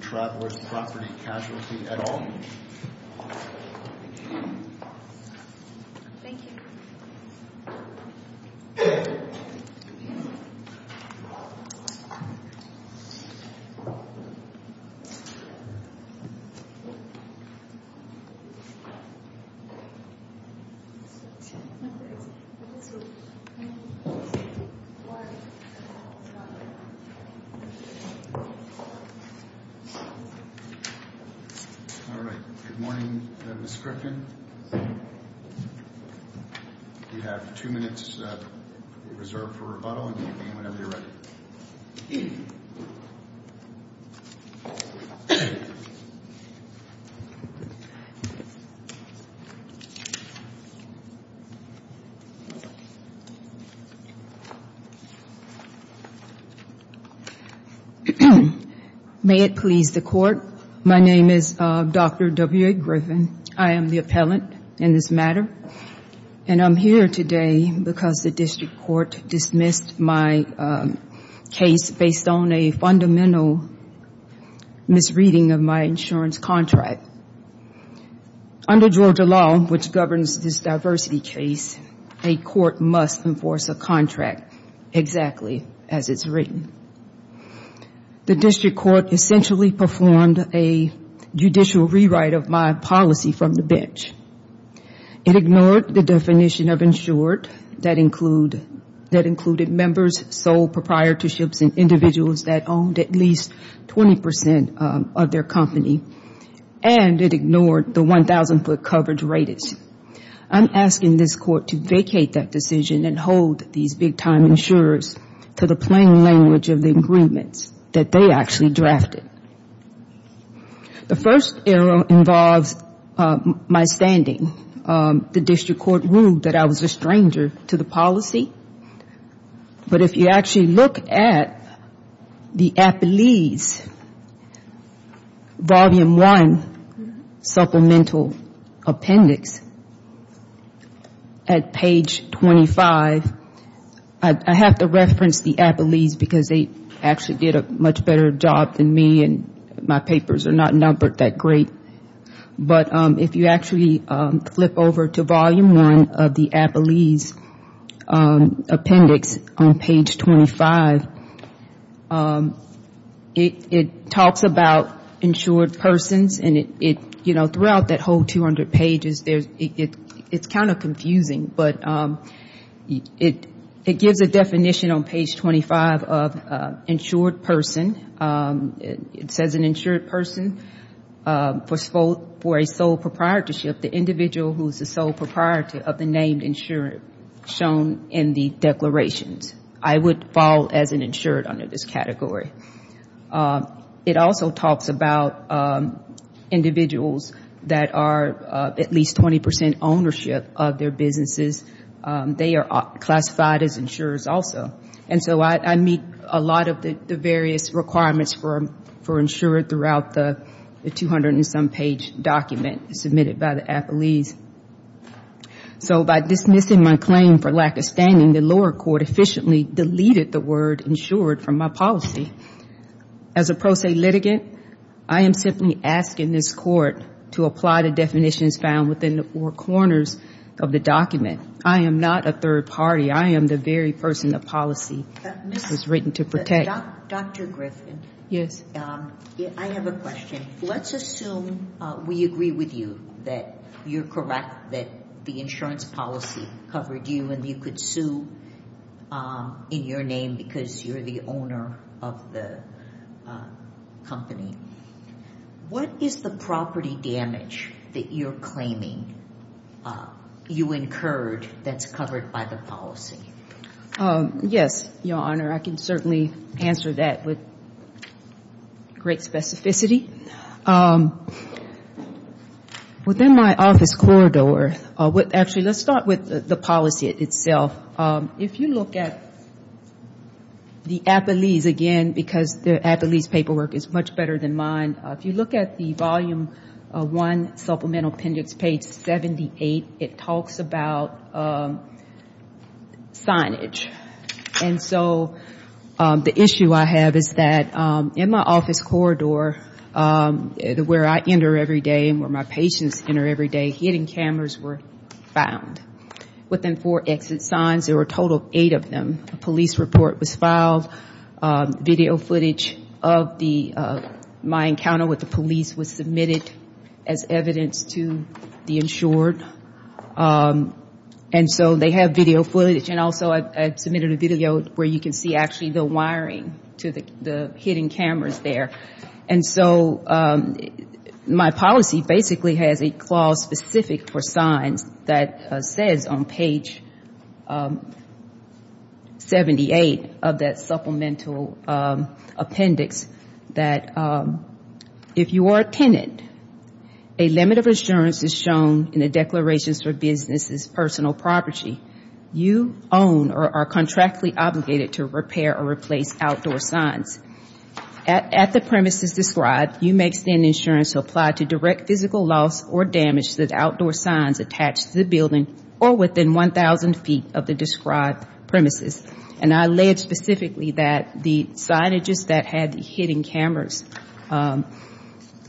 Travelers Property Casualty at Home Good morning, Ms. Griffin. You have two minutes reserved for rebuttal, and you can begin whenever you're ready. May it please the Court, my name is Dr. W. A. Griffin. I am the appellant in this matter. I'm here today because the district court dismissed my case based on a fundamental misreading of my insurance contract. Under Georgia law, which governs this diversity case, a court must enforce a contract exactly as it's written. The district court essentially performed a judicial rewrite of my policy from the bench. It ignored the definition of insured, that included members, sole proprietorships, and individuals that owned at least 20 percent of their company. And it ignored the 1,000-foot coverage rates. I'm asking this court to vacate that decision and hold these big-time insurers to the plain language of the agreements that they actually drafted. The first error involves my standing. The district court ruled that I was a stranger to the policy. But if you actually look at the appellee's volume one supplemental appendix at page 25, I have to reference the appellees, because they actually did a much better job than me and my papers are not numbered that great. But if you actually flip over to volume one of the appellee's appendix on page 25, it talks about insured persons. And it, you know, throughout that whole 200 pages, it's kind of confusing. But it gives a definition on page 25 of insured person. It says an insured person for a sole proprietorship, the individual who is the sole proprietor of the named insurer shown in the declarations. I would fall as an insured under this category. It also talks about individuals that are at least 20 percent ownership of their businesses. They are classified as insurers also. And so I meet a lot of the various requirements for insured throughout the 200 and some page document submitted by the appellees. So by dismissing my claim for lack of standing, the lower court efficiently deleted the word insured from my policy. As a pro se litigant, I am simply asking this court to apply the definitions found within the four corners of the document. I am not a third party. I am the very person the policy was written to protect. Dr. Griffin. Yes. I have a question. Let's assume we agree with you that you're correct that the insurance policy covered you and you could sue in your name because you're the owner of the company. What is the property damage that you're claiming you incurred that's covered by the policy? Yes, Your Honor. I can certainly answer that with great specificity. Within my office corridor, actually let's start with the policy itself. If you look at the appellees, again, because the appellees' paperwork is much better than mine. If you look at the volume one supplemental appendix page 78, it talks about signage. And so the issue I have is that in my office corridor where I enter every day and where my patients enter every day, hidden cameras were found. Within four exit signs, there were a total of eight of them. A police report was filed. Video footage of my encounter with the police was submitted as evidence to the insured. And so they have video footage. And also I submitted a video where you can see actually the wiring to the hidden cameras there. And so my policy basically has a clause specific for signs that says on page 78 of that supplemental appendix that if you are a tenant, a limit of assurance is shown in the declarations for businesses' personal property. You own or are contractually obligated to repair or replace outdoor signs. At the premises described, you may extend insurance to apply to direct physical loss or damage to the outdoor signs attached to the building or within 1,000 feet of the described premises. And I allege specifically that the signages that had hidden cameras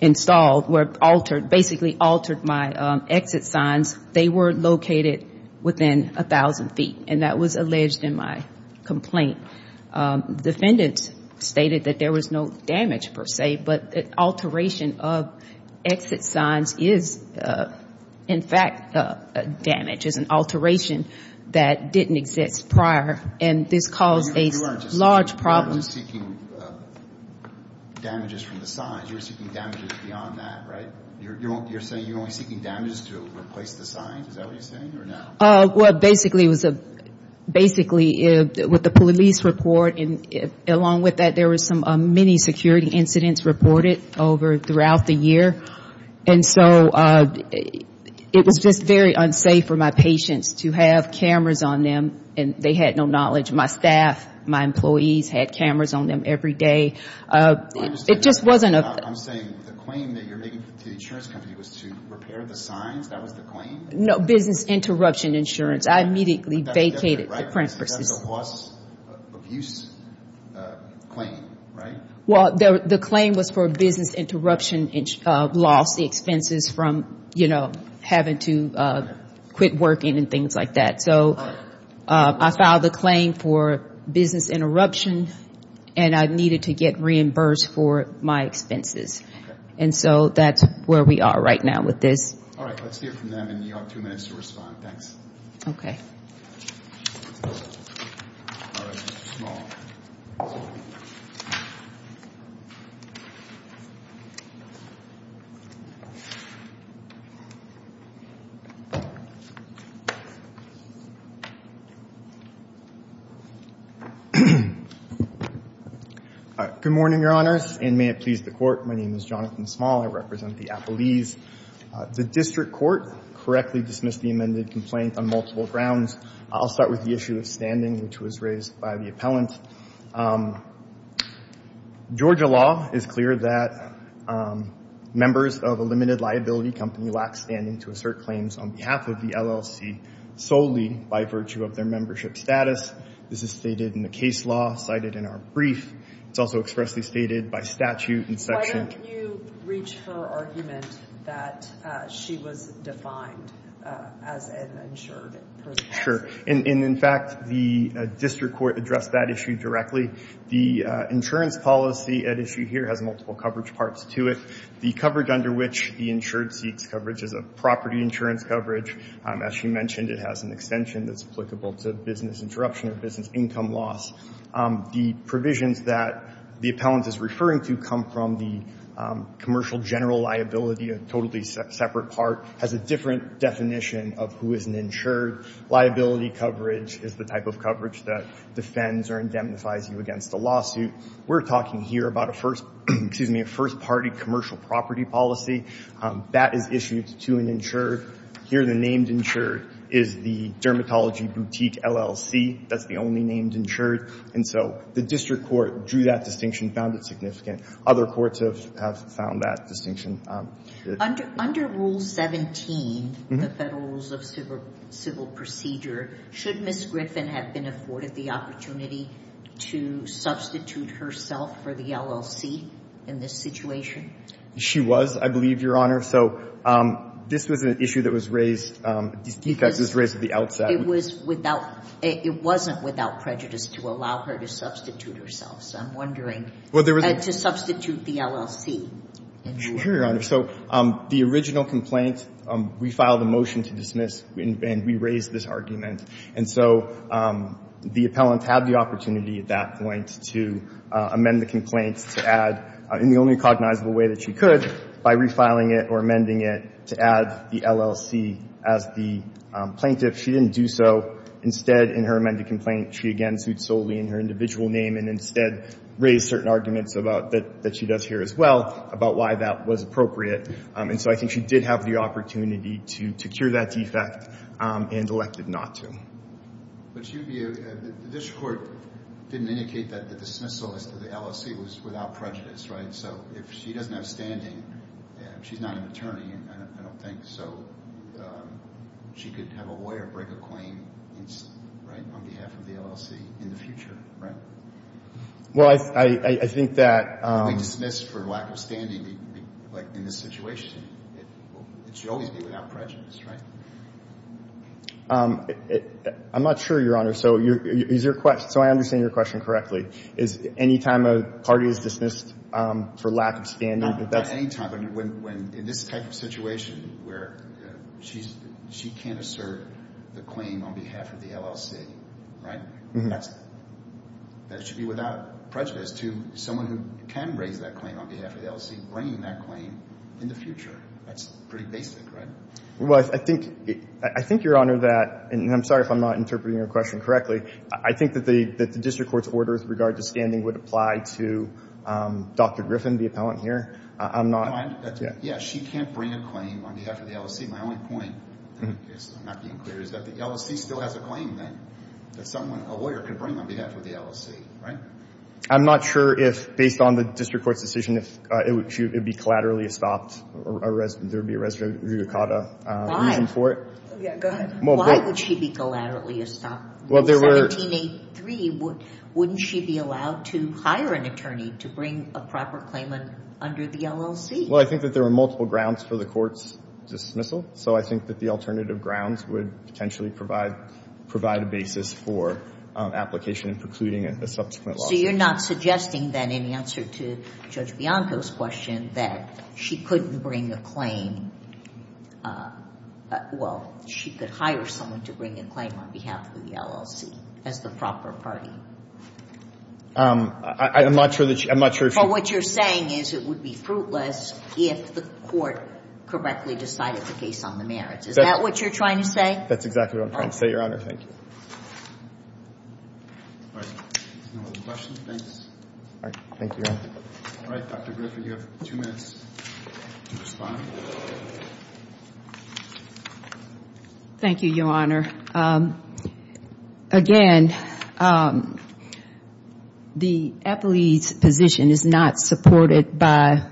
installed were altered, basically altered my exit signs. They were located within 1,000 feet. And that was alleged in my complaint. Defendants stated that there was no damage per se. But an alteration of exit signs is, in fact, damage. It's an alteration that didn't exist prior. And this caused a large problem. You weren't seeking damages from the signs. You were seeking damages beyond that, right? You're saying you're only seeking damages to replace the signs. Is that what you're saying or no? Well, basically, with the police report, along with that, there were many security incidents reported throughout the year. And so it was just very unsafe for my patients to have cameras on them. And they had no knowledge. My staff, my employees had cameras on them every day. I'm saying the claim that you're making to the insurance company was to repair the signs. That was the claim? No, business interruption insurance. I immediately vacated the premises. That's a loss abuse claim, right? Well, the claim was for business interruption loss expenses from, you know, having to quit working and things like that. So I filed the claim for business interruption, and I needed to get reimbursed for my expenses. And so that's where we are right now with this. All right, let's hear from them, and you have two minutes to respond. Good morning, Your Honors, and may it please the Court. My name is Jonathan Small. I represent the Appalese. The district court correctly dismissed the amended complaint on multiple grounds. I'll start with the issue of standing, which was raised by the appellant. Georgia law is clear that members of a limited liability company lack standing to assert claims on behalf of the LLC solely by virtue of their membership status. This is stated in the case law cited in our brief. It's also expressly stated by statute in Section — that she was defined as an insured person. Sure. And, in fact, the district court addressed that issue directly. The insurance policy at issue here has multiple coverage parts to it. The coverage under which the insured seeks coverage is a property insurance coverage. As she mentioned, it has an extension that's applicable to business interruption or business income loss. The provisions that the appellant is referring to come from the commercial general liability, a totally separate part, has a different definition of who is an insured. Liability coverage is the type of coverage that defends or indemnifies you against a lawsuit. We're talking here about a first — excuse me — a first-party commercial property policy. That is issued to an insured. Here the named insured is the Dermatology Boutique LLC. That's the only named insured. And so the district court drew that distinction, found it significant. Other courts have found that distinction. Under Rule 17, the Federal Rules of Civil Procedure, should Ms. Griffin have been afforded the opportunity to substitute herself for the LLC in this situation? She was, I believe, Your Honor. So this was an issue that was raised — this decux was raised at the outset. It was without — it wasn't without prejudice to allow her to substitute herself. So I'm wondering, to substitute the LLC. Sure, Your Honor. So the original complaint, we filed a motion to dismiss, and we raised this argument. And so the appellant had the opportunity at that point to amend the complaint in the only cognizable way that she could by refiling it or amending it to add the LLC as the plaintiff. She didn't do so. Instead, in her amended complaint, she again sued solely in her individual name and instead raised certain arguments about — that she does here as well about why that was appropriate. And so I think she did have the opportunity to secure that defect and elected not to. But the district court didn't indicate that the dismissal as to the LLC was without prejudice, right? So if she doesn't have standing, she's not an attorney, I don't think, so she could have a lawyer break a claim on behalf of the LLC in the future, right? Well, I think that — If they dismiss for lack of standing in this situation, it should always be without prejudice, right? I'm not sure, Your Honor. So I understand your question correctly. Is any time a party is dismissed for lack of standing that that's — Not any time. In this type of situation where she can't assert the claim on behalf of the LLC, right? That should be without prejudice to someone who can raise that claim on behalf of the LLC bringing that claim in the future. That's pretty basic, right? Well, I think, Your Honor, that — And I'm sorry if I'm not interpreting your question correctly. I think that the district court's order with regard to standing would apply to Dr. Griffin, the appellant here. I'm not — Yeah, she can't bring a claim on behalf of the LLC. My only point, in case I'm not being clear, is that the LLC still has a claim that someone, a lawyer, can bring on behalf of the LLC, right? I'm not sure if, based on the district court's decision, it would be collaterally estopped. There would be a res judicata reason for it. Yeah, go ahead. Why would she be collaterally estopped? Well, there were — In 1783, wouldn't she be allowed to hire an attorney to bring a proper claimant under the LLC? Well, I think that there were multiple grounds for the court's dismissal. So I think that the alternative grounds would potentially provide a basis for application and precluding a subsequent lawsuit. So you're not suggesting, then, in answer to Judge Bianco's question, that she couldn't bring a claim — well, she could hire someone to bring a claim on behalf of the LLC as the proper party? I'm not sure that she — I'm not sure if — But what you're saying is it would be fruitless if the court correctly decided the case on the merits. Is that what you're trying to say? That's exactly what I'm trying to say, Your Honor. Thank you. All right. No other questions? Thanks. All right. Thank you, Your Honor. All right. Dr. Griffin, you have two minutes to respond. Thank you, Your Honor. Again, the Appellee's position is not supported by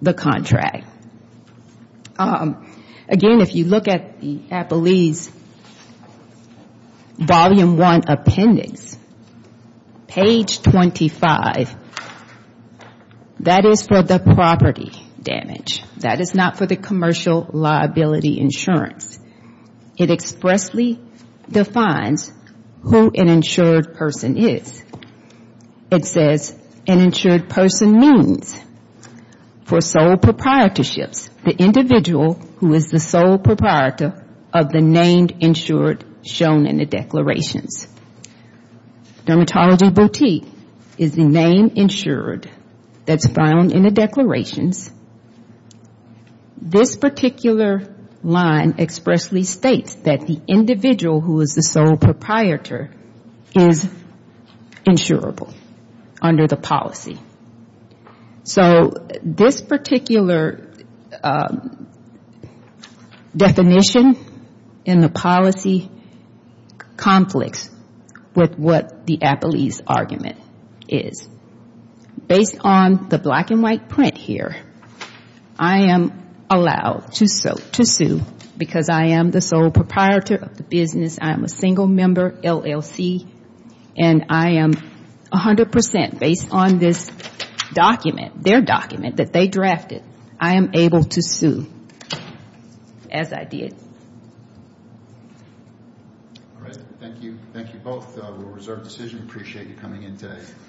the contract. Again, if you look at the Appellee's Volume I Appendix, page 25, that is for the property damage. That is not for the commercial liability insurance. It expressly defines who an insured person is. It says, an insured person means for sole proprietorships, the individual who is the sole proprietor of the named insured shown in the declarations. Dermatology boutique is the name insured that's found in the declarations. This particular line expressly states that the individual who is the sole proprietor is insurable under the policy. So this particular definition in the policy conflicts with what the Appellee's argument is. Based on the black and white print here, I am allowed to sue because I am the sole proprietor of the business. I am a single member LLC, and I am 100% based on this document, their document that they drafted, I am able to sue as I did. All right. Thank you. Thank you both. We'll reserve the decision. Appreciate you coming in today.